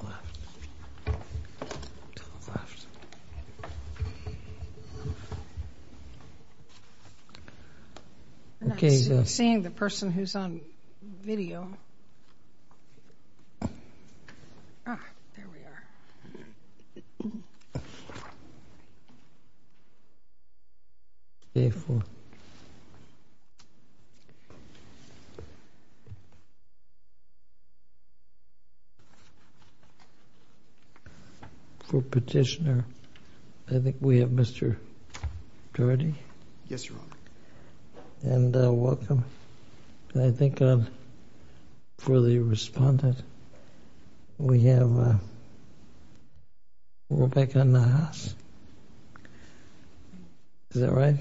Garland v. Smith For petitioner, I think we have Mr. Doherty? Yes, Your Honor. And welcome. And I think for the respondent, we have Rebecca Nahas? Is that right?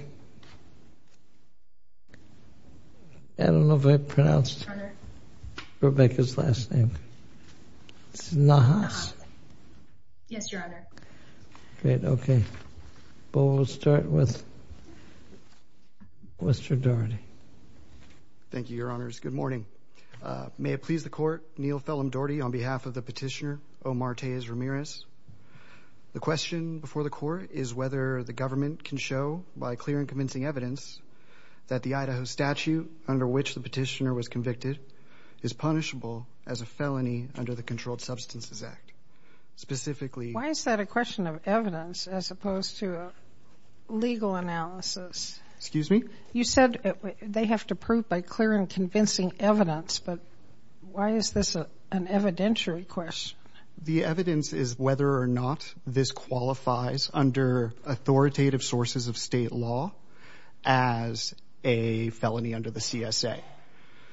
I don't know if I pronounced Rebecca's last name. It's Nahas? Yes, Your Honor. Great, okay. But we'll start with Mr. Doherty. Thank you, Your Honors. Good morning. May it please the Court, Neal Fellham Doherty on behalf of the petitioner Omar Taiz Ramirez. The question before the Court is whether the government can show by clear and convincing evidence that the Idaho statute under which the petitioner was convicted is punishable as a felony under the Controlled Substances Act. Specifically... Why is that a question of evidence as opposed to a legal analysis? Excuse me? You said they have to prove by clear and convincing evidence, but why is this an evidentiary question? The evidence is whether or not this qualifies under authoritative sources of state law as a felony under the CSA.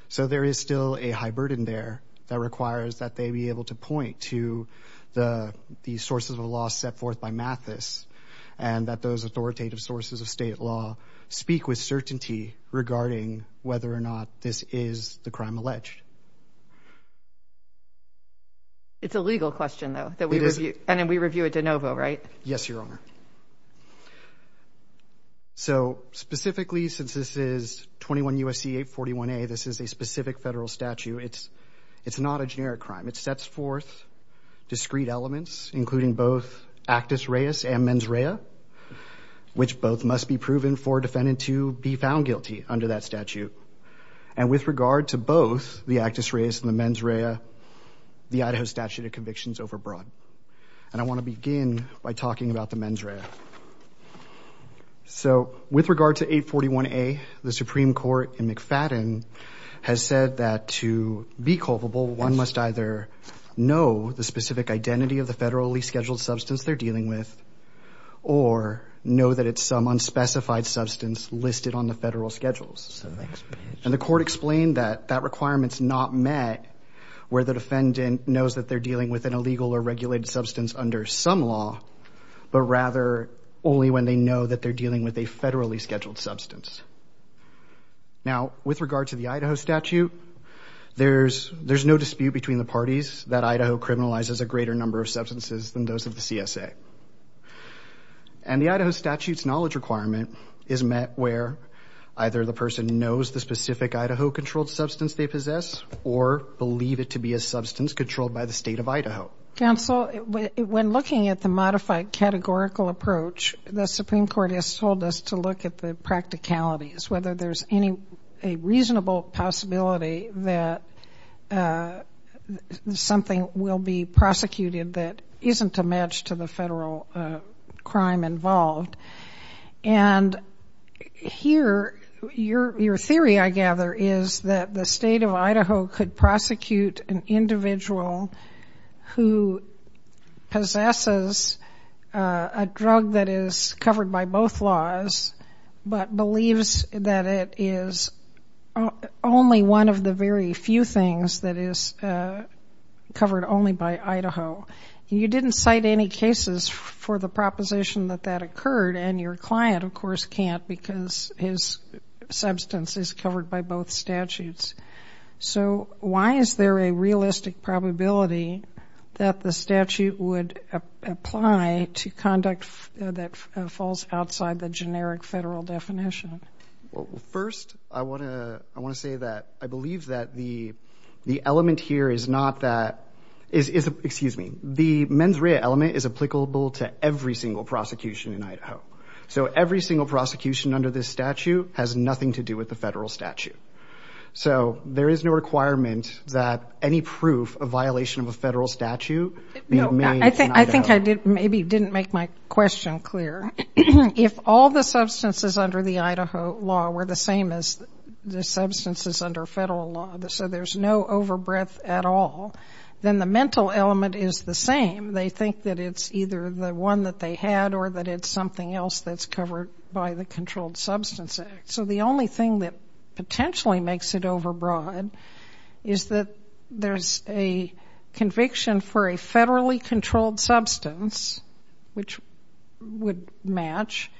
So there is still a high burden there that requires that they be able to point to the sources of law set forth by Mathis and that those authoritative sources of state law speak with certainty regarding whether or not this is the crime alleged. It's a legal question, though. It is. And we review it de novo, right? Yes, Your Honor. So, specifically, since this is 21 U.S.C. 841A, this is a specific federal statute, it's not a generic crime. It sets forth discrete elements, including both actus reus and mens rea, which both must be proven for a defendant to be found guilty under that statute. And with regard to both the actus reus and the mens rea, the Idaho statute of conviction is overbroad. And I want to begin by talking about the mens rea. So with regard to 841A, the Supreme Court in McFadden has said that to be culpable, one must either know the specific identity of the federally scheduled substance they're dealing with or know that it's some unspecified substance listed on the federal schedules. And the court explained that that requirement's not met where the defendant knows that they're dealing with an illegal or regulated substance under some law, but rather only when they know that they're dealing with a federally scheduled substance. Now, with regard to the Idaho statute, there's no dispute between the parties that Idaho criminalizes a greater number of substances than those of the CSA. And the Idaho statute's knowledge requirement is met where either the person knows the specific Idaho-controlled substance they possess or believe it to be a substance controlled by the state of Idaho. Counsel, when looking at the modified categorical approach, the Supreme Court has told us to look at the practicalities, whether there's any reasonable possibility that something will be prosecuted that isn't a match to the federal crime involved. And here, your theory, I gather, is that the state of Idaho could prosecute an individual who possesses a drug that is covered by both laws, but believes that it is only one of the very few things that is covered only by Idaho. You didn't cite any cases for the proposition that that occurred, and your client, of course, can't, because his substance is covered by both statutes. So why is there a realistic probability that the statute would apply to conduct a crime that falls outside the generic federal definition? First, I want to say that I believe that the element here is not that... Excuse me. The mens rea element is applicable to every single prosecution in Idaho. So every single prosecution under this statute has nothing to do with the federal statute. So there is no requirement that any proof of violation of a federal statute be made in Idaho. I think I maybe didn't make my question clear. If all the substances under the Idaho law were the same as the substances under federal law, so there's no overbreath at all, then the mental element is the same. They think that it's either the one that they had or that it's something else that's covered by the Controlled Substance Act. So the only thing that potentially makes it overbroad is that there's a conviction for a federally controlled substance which would match,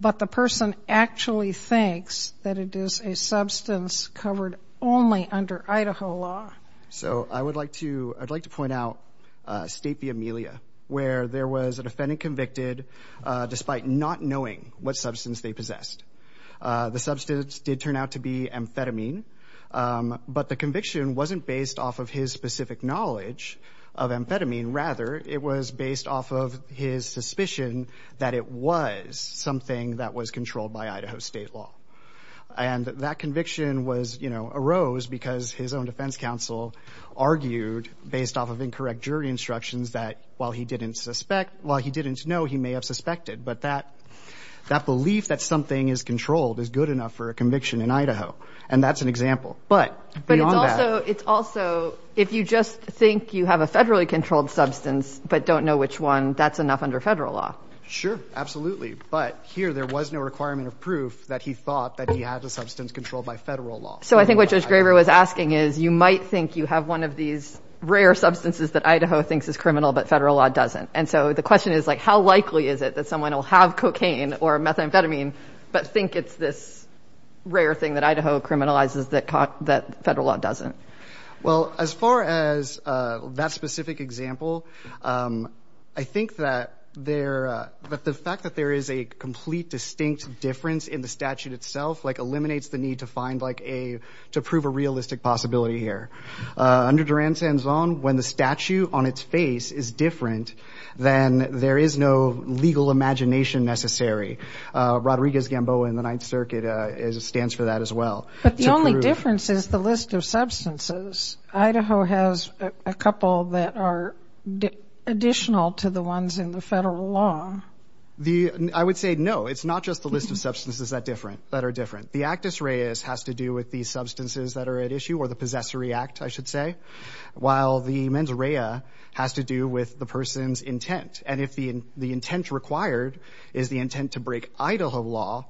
but the person actually thinks that it is a substance covered only under Idaho law. So I would like to point out state v. Amelia, where there was a defendant convicted despite not knowing what substance they possessed. The substance did turn out to be amphetamine, but the conviction wasn't based off of his specific knowledge of amphetamine. Rather, it was based off of his suspicion that it was something that was controlled by Idaho state law. And that conviction arose because his own defense counsel argued based off of incorrect jury instructions that while he didn't know, he may have suspected. But that belief that something is controlled is good enough for a conviction in Idaho, and that's an example. But it's also, if you just think you have a federally controlled substance, but don't know which one, that's enough under federal law. Sure, absolutely. But here there was no requirement of proof that he thought that he had a substance controlled by federal law. So I think what Judge Graber was asking is, you might think you have one of these rare substances that Idaho thinks is criminal, but federal law doesn't. And so the question is, how likely is it that someone will have cocaine or methamphetamine, but think it's this rare thing that Idaho criminalizes that federal law doesn't? Well, as far as that specific example, I think that the fact that there is a complete distinct difference in the statute itself eliminates the need to prove a realistic possibility here. Under Duran-Sanzon, when the statute on its face is different, then there is no legal imagination necessary. Rodriguez-Gamboa in the Ninth Circuit stands for that as well. But the only difference is the list of substances. Idaho has a couple that are additional to the ones in the federal law. I would say no, it's not just the list of substances that are different. The actus reus has to do with the substances that are at issue, or the possessory act, I should say, while the mens rea has to do with the person's intent. And if the intent required is the intent to break Idaho law,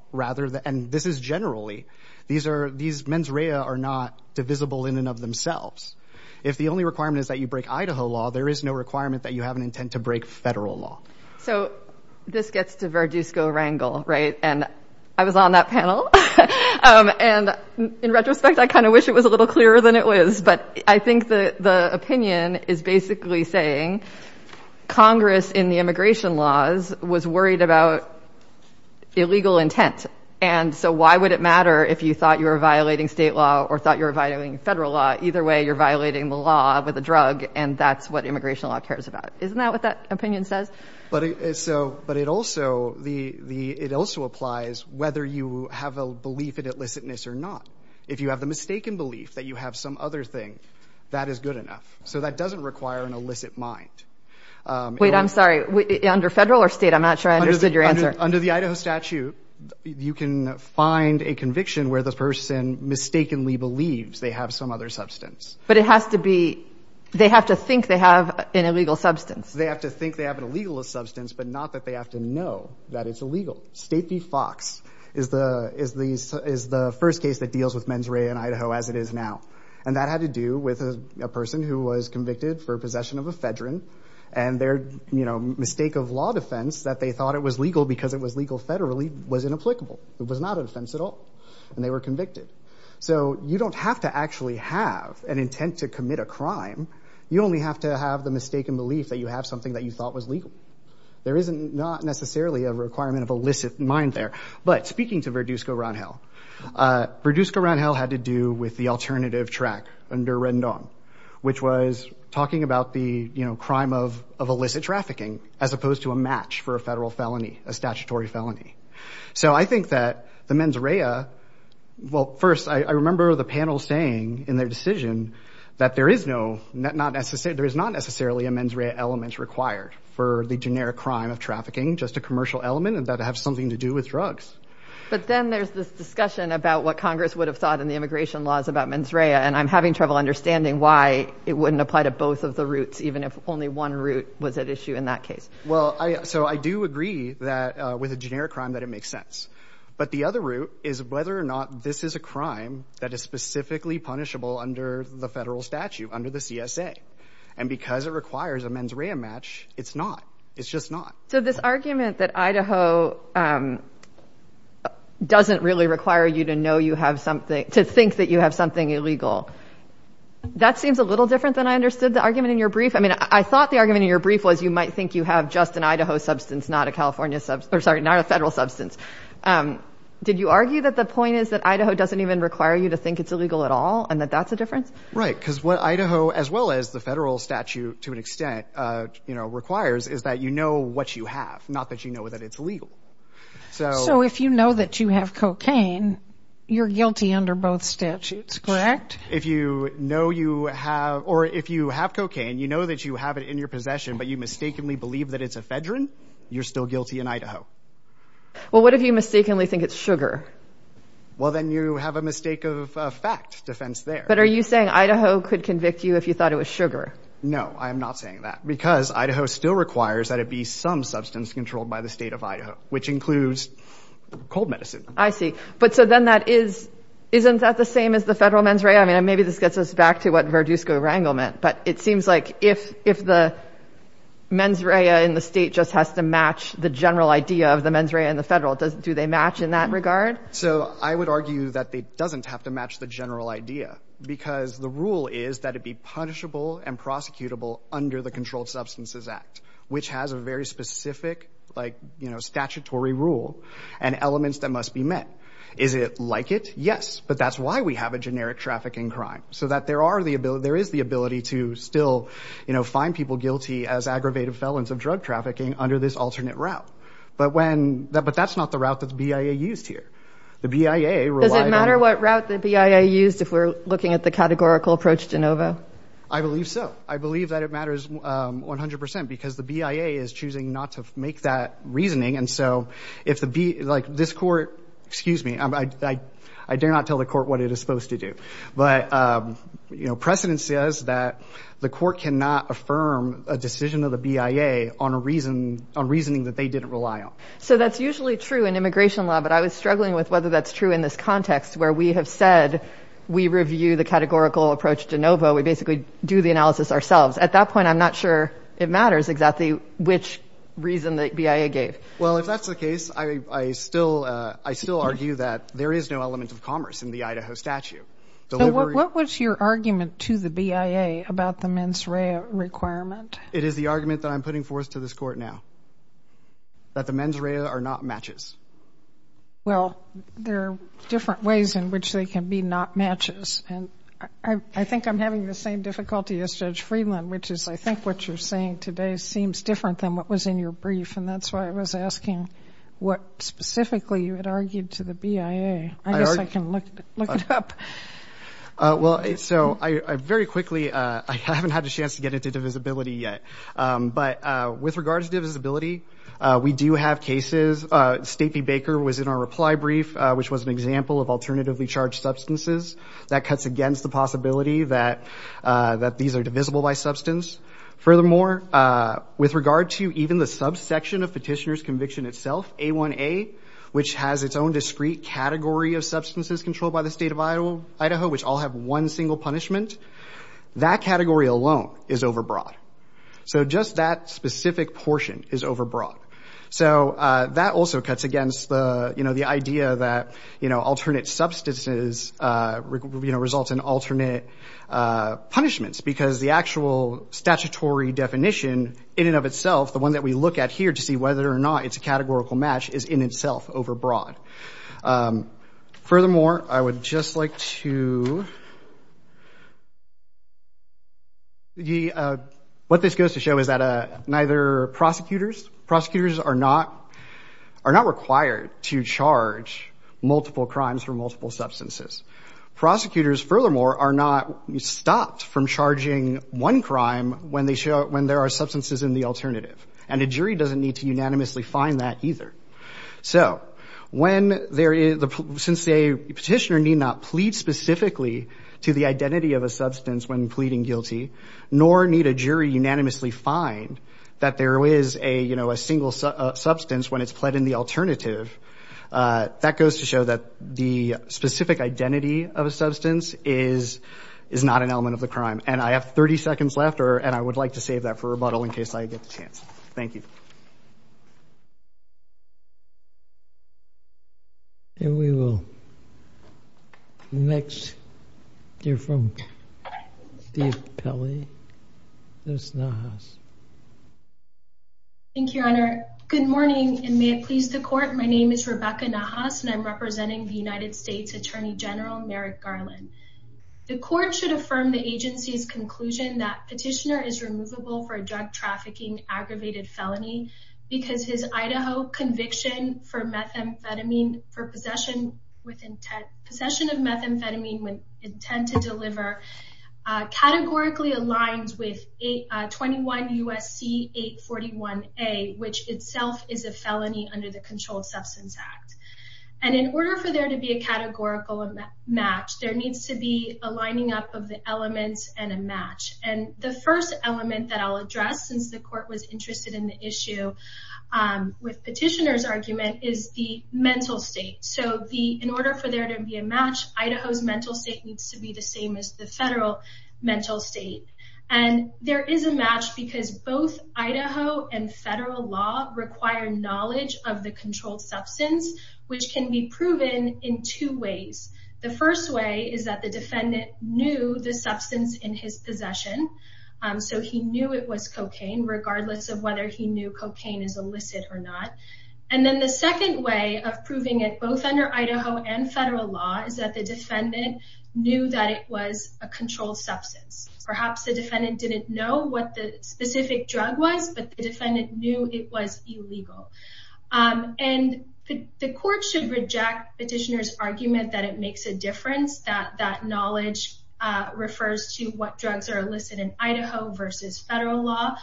and this is generally, these mens rea are not divisible in and of themselves. If the only requirement is that you break Idaho law, there is no requirement that you have an intent to break federal law. So this gets to Verdusco-Rangel, right? And I was on that panel. And in retrospect, I kind of wish it was a little clearer than it was, but I think the opinion is basically saying, Congress in the immigration laws was worried about illegal intent. And so why would it matter if you thought you were violating state law or thought you were violating federal law? Either way, you're violating the law with a drug, and that's what immigration law cares about. Isn't that what that opinion says? But it also applies whether you have a belief in illicitness or not. If you have the mistaken belief that you have some other thing, that is good enough. So that doesn't require an illicit mind. Wait, I'm sorry, under federal or state? I'm not sure I understood your answer. Under the Idaho statute, you can find a conviction where the person mistakenly believes they have some other substance. But it has to be, they have to think they have an illegal substance. They have to think they have an illegal substance, but not that they have to know that it's illegal. State v. Fox is the first case that deals with mens rea in Idaho, as it is now. And that had to do with a person who was convicted for possession of ephedrine, and their mistake of law defense, that they thought it was legal because it was legal federally, was inapplicable. It was not a defense at all. And they were convicted. So you don't have to actually have an intent to commit a crime. You only have to have the mistaken belief that you have something that you thought was legal. There is not necessarily a requirement of illicit mind there. But speaking to Verduzco-Rondell, Verduzco-Rondell had to do with the alternative track under Rendon, which was talking about the crime of illicit trafficking, as opposed to a match for a federal felony, a statutory felony. So I think that the mens rea, well, first, I remember the panel saying in their decision that there is not necessarily a mens rea element required for the generic crime of trafficking, just a commercial element, and that it has something to do with drugs. But then there's this discussion about what Congress would have thought in the immigration laws about mens rea, and I'm having trouble understanding why it wouldn't apply to both of the routes, even if only one route was at issue in that case. Well, so I do agree that with a generic crime that it makes sense. But the other route is whether or not this is a crime that is specifically punishable under the federal statute, under the CSA. And because it requires a mens rea match, it's not. It's just not. So this argument that Idaho doesn't really require you to know you have something, to think that you have something illegal, that seems a little different than I understood the argument in your brief. I mean, I thought the argument in your brief was you might think you have just an Idaho substance, not a California, sorry, not a federal substance. Did you argue that the point is that Idaho doesn't even require you to think it's illegal at all and that that's a difference? Right. Because what Idaho, as well as the federal statute to an extent, you know, requires is that you know what you have, not that you know that it's illegal. So if you know that you have cocaine, you're guilty under both statutes, correct? If you know you have or if you have cocaine, you know that you have it in your possession, but you mistakenly believe that it's a fedrin, you're still guilty in Idaho. Well, what if you mistakenly think it's sugar? Well, then you have a mistake of fact defense there. But are you saying Idaho could convict you if you thought it was sugar? No, I am not saying that because Idaho still requires that it be some substance controlled by the state of Idaho, which includes cold medicine. I see. But so then that is isn't that the same as the federal mens rea? I mean, maybe this gets us back to what Verduzco Rangel meant. But it seems like if if the mens rea in the state just has to match the general idea of the mens rea in the federal, do they match in that regard? So I would argue that they doesn't have to match the general idea, because the rule is that it be punishable and prosecutable under the Controlled Substances Act, which has a very specific statutory rule and elements that must be met. Is it like it? Yes. But that's why we have a generic trafficking crime, so that there is the ability to still find people guilty as aggravated felons of drug trafficking under this alternate route. But that's not the route that the BIA used here. Does it matter what route the BIA used if we're looking at the categorical approach to NOVA? I believe so. I believe that it matters 100 percent, because the BIA is choosing not to make that reasoning. And so if the like this court excuse me, I dare not tell the court what it is supposed to do. But, you know, precedent says that the court cannot affirm a decision of the BIA on a reason on reasoning that they didn't rely on. So that's usually true in immigration law. But I was struggling with whether that's true in this context where we have said we review the categorical approach to NOVA. We basically do the analysis ourselves. At that point, I'm not sure it matters exactly which reason the BIA gave. Well, if that's the case, I still argue that there is no element of commerce in the Idaho statute. What was your argument to the BIA about the mens rea requirement? It is the argument that I'm putting forth to this court now, that the mens rea are not matches. Well, there are different ways in which they can be not matches. And I think I'm having the same difficulty as Judge Friedland, which is I think what you're saying today seems different than what was in your brief. And that's why I was asking what specifically you had argued to the BIA. I guess I can look it up. Well, so very quickly, I haven't had a chance to get into divisibility yet. But with regards to divisibility, we do have cases. Stacey Baker was in our reply brief, which was an example of alternatively charged substances that cuts against the possibility that these are divisible by substance. Furthermore, with regard to even the subsection of petitioner's conviction itself, A1A, which has its own discrete category of substances controlled by the state of Idaho, which all have one single punishment, that category alone is overbroad. So just that specific portion is overbroad. So that also cuts against the idea that alternate substances result in alternate punishments. Because the actual statutory definition in and of itself, the one that we look at here to see whether or not it's a categorical match, is in itself a overbroad. What this goes to show is that neither prosecutors are not required to charge multiple crimes for multiple substances. Prosecutors, furthermore, are not stopped from charging one crime when there are substances in the alternative. And a jury doesn't need to unanimously find that either. Since a petitioner need not plead specifically to the identity of a substance when pleading guilty, nor need a jury unanimously find that there is a single substance when it's pled in the alternative, that goes to show that the specific identity of a substance is not an element of the crime. And I have 30 seconds left, and I would like to save that for rebuttal in case I get the chance. Thank you. Thank you, Your Honor. Good morning, and may it please the Court, my name is Rebecca Nahas, and I'm representing the United States Attorney General Merrick Garland. The Court should affirm the agency's conclusion that petitioner is removable for a drug trafficking aggravated felony because his Idaho conviction for possession of methamphetamine with intent to deliver categorically aligns with 21 U.S.C. 841A, which itself is a felony under the Controlled Substance Act. And in order for there to be a categorical match, there needs to be a lining up of the elements and a match. And the first element that I'll address, since the Court was interested in the issue with petitioner's argument, is the mental state. So in order for there to be a match, Idaho's mental state needs to be the same as the federal mental state. And there is a match because both Idaho and federal law require knowledge of the controlled substance. Which can be proven in two ways. The first way is that the defendant knew the substance in his possession. So he knew it was cocaine, regardless of whether he knew cocaine is illicit or not. And then the second way of proving it, both under Idaho and federal law, is that the defendant knew that it was a controlled substance. Perhaps the defendant didn't know what the specific drug was, but the defendant knew it was illegal. And the Court should reject petitioner's argument that it makes a difference, that that knowledge refers to what drugs are illicit in Idaho versus federal law.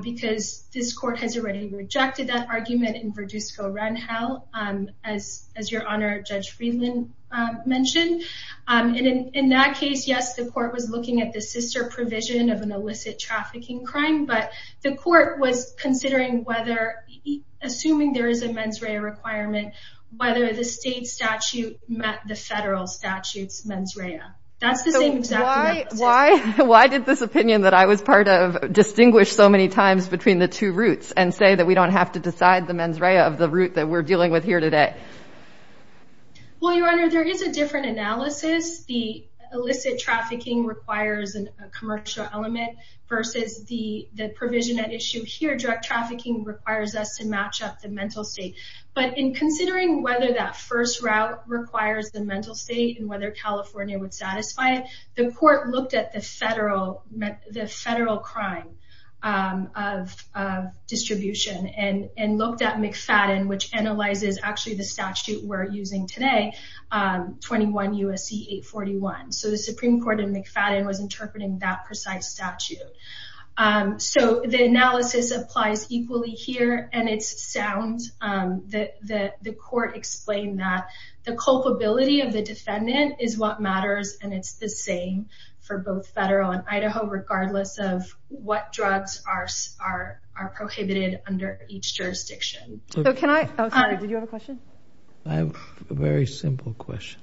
Because this Court has already rejected that argument in Verdusco-Renhel, as your Honor Judge Friedland mentioned. And in that case, yes, the Court was looking at the sister provision of an illicit trafficking crime. But the Court was considering whether, assuming there is a mens rea requirement, whether the state statute met the federal statute's mens rea. That's the same exact analysis. So why did this opinion that I was part of distinguish so many times between the two routes and say that we don't have to decide the mens rea of the route that we're dealing with here today? Well, your Honor, there is a different analysis. The illicit trafficking requires a commercial element versus the provision at issue here. Drug trafficking requires us to match up the mental state. But in considering whether that first route requires the mental state and whether California would satisfy it, the Court looked at the federal crime of distribution and looked at McFadden, which analyzes actually the statute we're using today, 21 U.S.C.E. 841. So the Supreme Court in McFadden was interpreting that precise statute. So the analysis applies equally here, and it's sound. The Court explained that the culpability of the defendant is what matters, and it's the same for both federal and Idaho, regardless of what drugs are prohibited under each jurisdiction. I have a very simple question.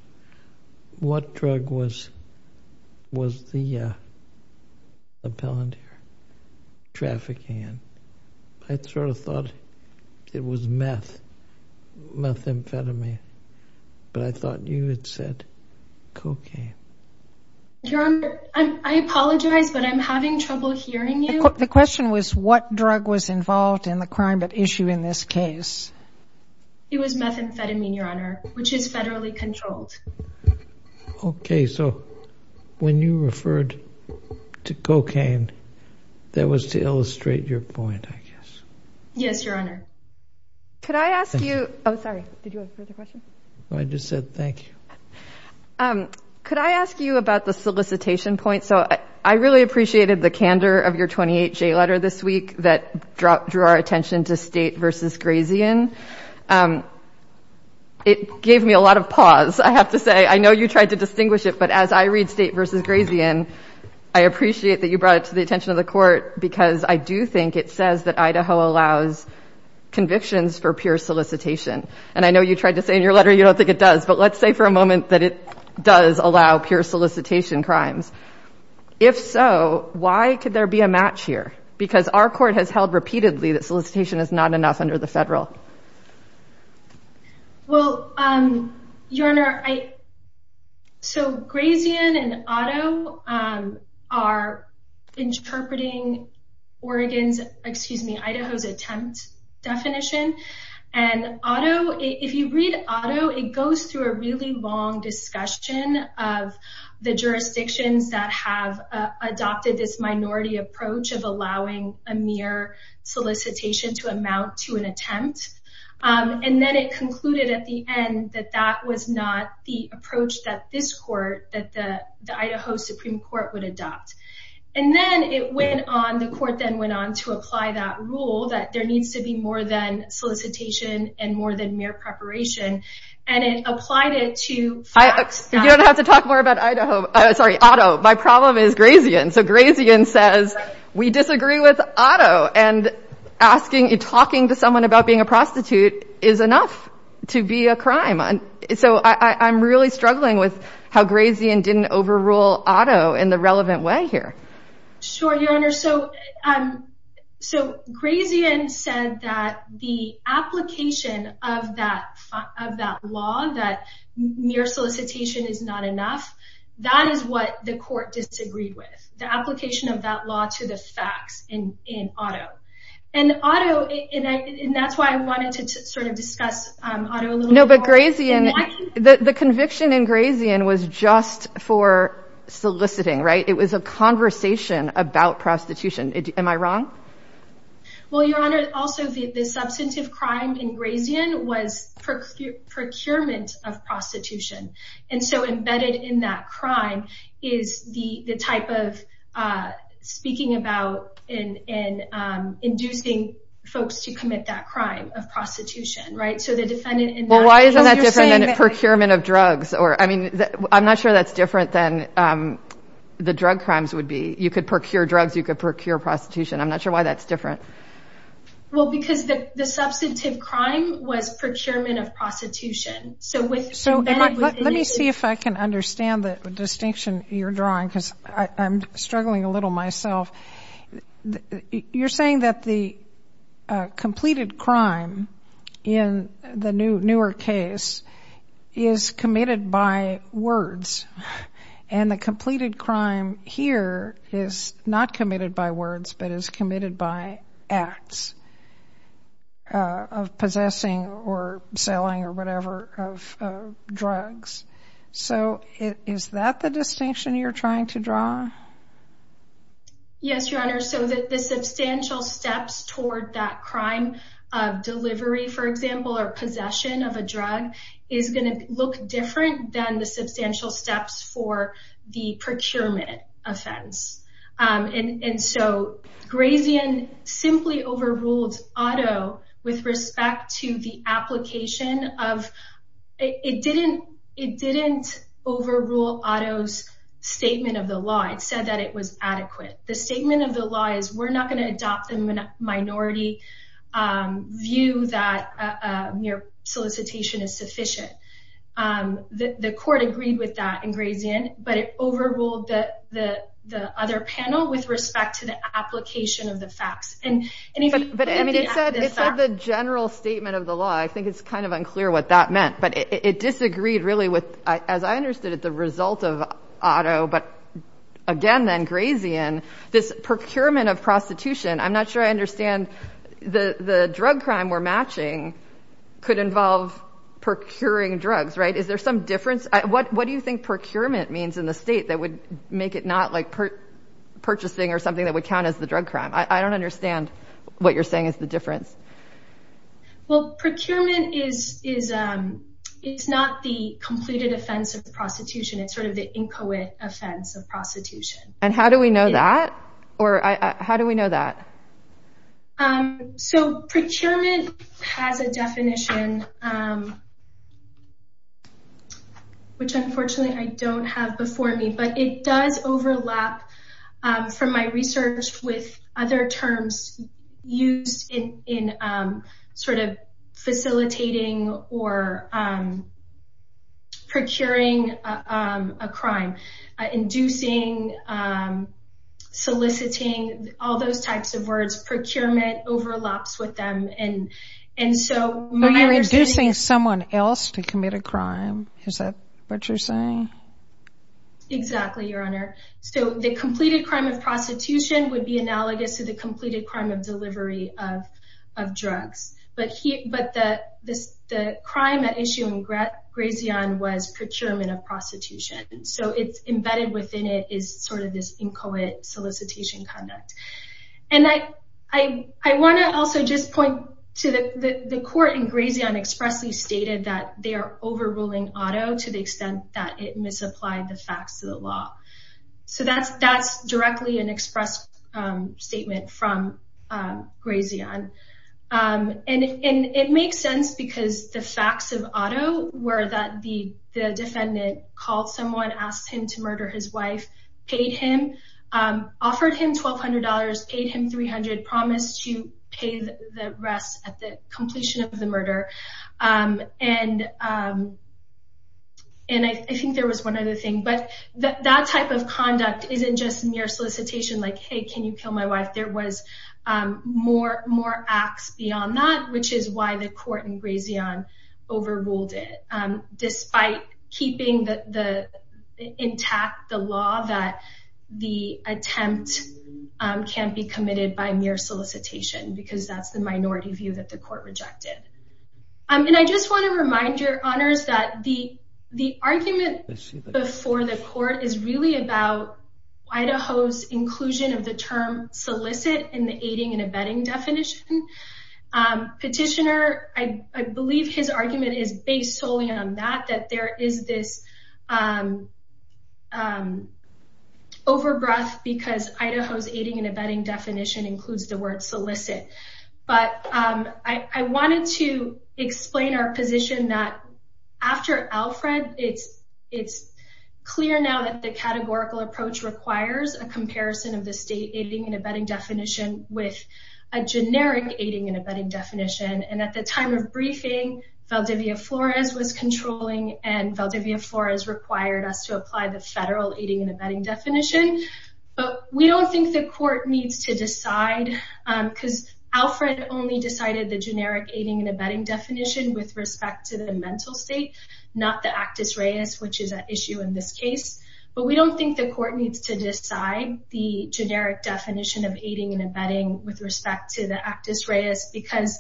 What drug was the palantir trafficking in? I sort of thought it was meth, methamphetamine. But I thought you had said cocaine. Your Honor, I apologize, but I'm having trouble hearing you. The question was what drug was involved in the crime at issue in this case. It was methamphetamine, Your Honor, which is federally controlled. Okay, so when you referred to cocaine, that was to illustrate your point, I guess. Yes, Your Honor. Could I ask you — oh, sorry, did you have a further question? I just said thank you. Could I ask you about the solicitation point? So I really appreciated the candor of your 28-J letter this week that drew our attention to State v. Grazian. It gave me a lot of pause, I have to say. And I know you tried to say in your letter you don't think it does, but let's say for a moment that it does allow pure solicitation crimes. If so, why could there be a match here? Because our court has held repeatedly that solicitation is not enough under the federal. Well, Your Honor, so Grazian and Otto are interpreting Idaho's attempt definition, and if you read Otto, it goes through a really long discussion of the jurisdictions that have adopted this minority approach of allowing a mere solicitation to amount to an attempt. And then it concluded at the end that that was not the approach that this court, that the Idaho Supreme Court would adopt. And then it went on, the court then went on to apply that rule that there needs to be more than solicitation and more than mere preparation. And it applied it to facts. You don't have to talk more about Idaho. Sorry, Otto. My problem is Grazian. So Grazian says, we disagree with Otto. And talking to someone about being a prostitute is enough to be a crime. So I'm really struggling with how Grazian didn't overrule Otto in the relevant way here. Sure, Your Honor. So Grazian said that the application of that law, that mere solicitation is not enough, that is what the court disagreed with. The application of that law to the facts in Otto. And that's why I wanted to sort of discuss Otto a little more. No, but Grazian, the conviction in Grazian was just for soliciting, right? It was a conversation about prostitution. Am I wrong? Well, Your Honor, also the substantive crime in Grazian was procurement of prostitution. And so embedded in that crime is the type of speaking about and inducing folks to commit that crime of prostitution, right? So the defendant... I'm not sure that's different than the drug crimes would be. You could procure drugs, you could procure prostitution. I'm not sure why that's different. Well, because the substantive crime was procurement of prostitution. So let me see if I can understand the distinction you're drawing, because I'm struggling a little myself. You're saying that the completed crime in the newer case is committed by words, and the completed crime here is not committed by words, but is committed by acts of possessing or selling or whatever of drugs. So is that the distinction you're trying to draw? Yes, Your Honor. So the substantial steps toward that crime of delivery, for example, or possession of a drug is going to look different than the substantial steps for the procurement offense. And so Grazian simply overruled Otto with respect to the application of... It didn't overrule Otto's statement of the law. It said that it was adequate. The statement of the law is we're not going to adopt a minority view that mere solicitation is sufficient. The court agreed with that in Grazian, but it overruled the other panel with respect to the application of the facts. But it said the general statement of the law. I think it's kind of unclear what that meant, but it disagreed really with, as I understood it, the result of Otto. But again, then Grazian, this procurement of prostitution, I'm not sure I understand the drug crime we're matching could involve procuring drugs, right? Is there some difference? What do you think procurement means in the state that would make it not like purchasing or something that would count as the drug crime? I don't understand what you're saying is the difference. Well, procurement is not the completed offense of prostitution. It's sort of the inchoate offense of prostitution. And how do we know that? Or how do we know that? So procurement has a definition, which unfortunately I don't have before me, but it does overlap from my research with other terms used in sort of facilitating or procuring a crime, inducing, soliciting, all those types of words. Procurement overlaps with them. So you're inducing someone else to commit a crime. Is that what you're saying? Exactly, Your Honor. So the completed crime of prostitution would be analogous to the completed crime of delivery of drugs. But the crime at issue in Grazion was procurement of prostitution. So it's embedded within it is sort of this inchoate solicitation conduct. And I want to also just point to the court in Grazion expressly stated that they are overruling auto to the extent that it misapplied the facts of the law. So that's directly an express statement from Grazion. And it makes sense because the facts of auto were that the defendant called someone, asked him to murder his wife, paid him, offered him twelve hundred dollars, paid him three hundred, promised to pay the rest at the completion of the murder. And I think there was one other thing. But that type of conduct isn't just mere solicitation like, hey, can you kill my wife? There was more more acts beyond that, which is why the court in Grazion overruled it, despite keeping the intact the law that the attempt can't be committed by mere solicitation, because that's the minority view that the court rejected. And I just want to remind your honors that the conclusion of the term solicit in the aiding and abetting definition petitioner, I believe his argument is based solely on that, that there is this overgrowth because Idaho's aiding and abetting definition includes the word solicit. But I wanted to explain our position that after Alfred, it's it's clear now that the categorical approach requires a comparison of the state aiding and abetting definition with a generic aiding and abetting definition. And at the time of briefing, Valdivia Flores was controlling and Valdivia Flores required us to apply the federal aiding and abetting definition. But we don't think the court needs to decide because Alfred only decided the generic aiding and abetting definition with respect to the mental state, not the Actus Reis, which is an issue in this case. But we don't think the court needs to decide the generic definition of aiding and abetting with respect to the Actus Reis, because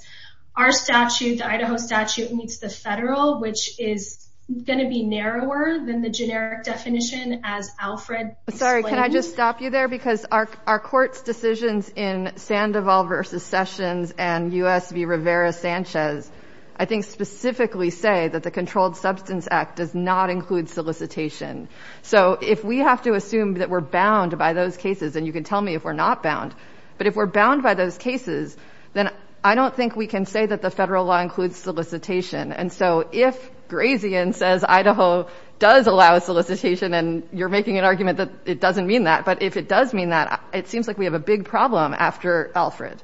our statute, the Idaho statute meets the federal, which is going to be narrower than the generic definition as Alfred. Sorry, can I just stop you there? Because our court's decisions in Sandoval v. Sessions and U.S. v. Rivera Sanchez, I think specifically say that the Controlled Substance Act does not include solicitation. So if we have to assume that we're bound by those cases, and you can tell me if we're not bound, but if we're bound by those cases, then I don't think we can say that the federal law includes solicitation. And so if Grazian says Idaho does allow solicitation, and you're making an argument that it doesn't mean that, but if it does mean that, it seems like we have a big problem after Alfred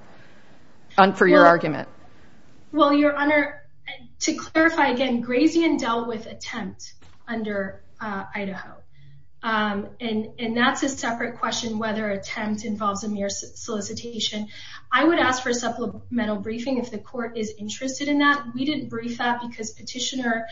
for your argument. Well, Your Honor, to clarify again, Grazian dealt with attempt under Idaho. And that's a separate question whether attempt involves a mere solicitation. I would ask for a supplemental briefing if the court is interested in that. We didn't brief that because Petitioner's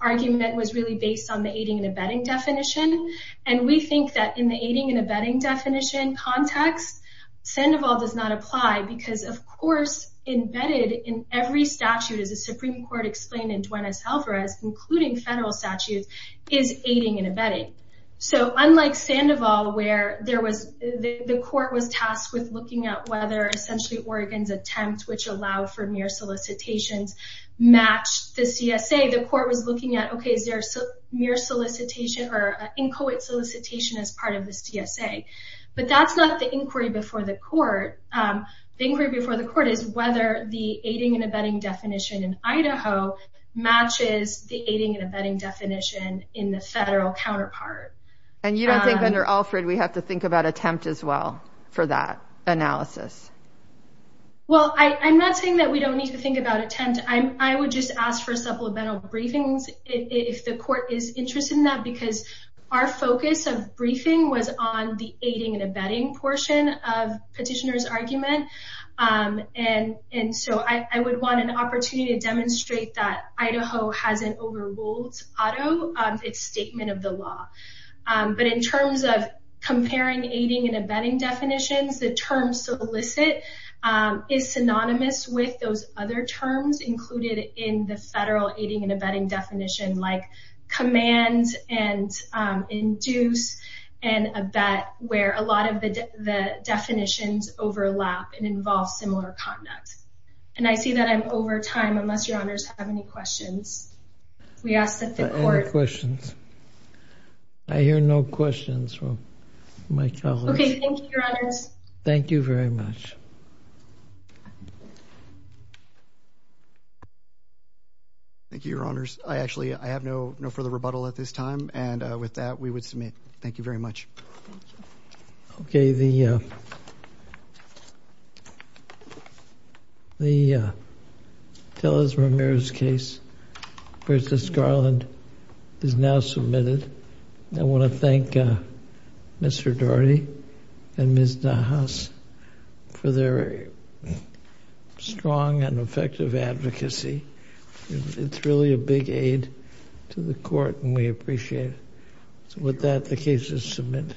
argument was really based on the aiding and abetting definition. And we think that in the aiding and abetting definition context, Sandoval does not apply because, of course, embedded in every statute, as the Supreme Court explained in Duenas-Alvarez, including federal statutes, is aiding and abetting. So unlike Sandoval, where there was the court was tasked with looking at whether essentially Oregon's attempt, which allowed for mere solicitations, matched the CSA. The court was looking at, okay, is there mere solicitation or an inchoate solicitation as part of the CSA? But that's not the inquiry before the court. The inquiry before the court is whether the aiding and abetting definition in Idaho matches the aiding and abetting definition in the federal counterpart. And you don't think under Alfred we have to think about attempt as well for that analysis? Well, I'm not saying that we don't need to think about attempt. I would just ask for supplemental briefings if the court is interested in that, because our focus of briefing was on the aiding and abetting portion of Petitioner's argument. And so I would want an opportunity to demonstrate that Idaho hasn't overruled Otto on its statement of the law. But in terms of comparing aiding and abetting definitions, the term solicit is synonymous with those other terms included in the federal aiding and abetting definition, like command and induce and abet, where a lot of the definitions overlap and involve similar conduct. And I see that I'm over time, unless Your Honors have any questions. I hear no questions from my colleagues. Thank you, Your Honors. Thank you, Your Honors. I actually have no further rebuttal at this time. And with that, we would submit. Thank you very much. Okay, the Tellers-Ramirez case versus Garland is now submitted. I want to thank Mr. Daugherty and Ms. Nahas for their strong and effective advocacy. It's really a big aid to the court and we appreciate it. So with that, the case is submitted.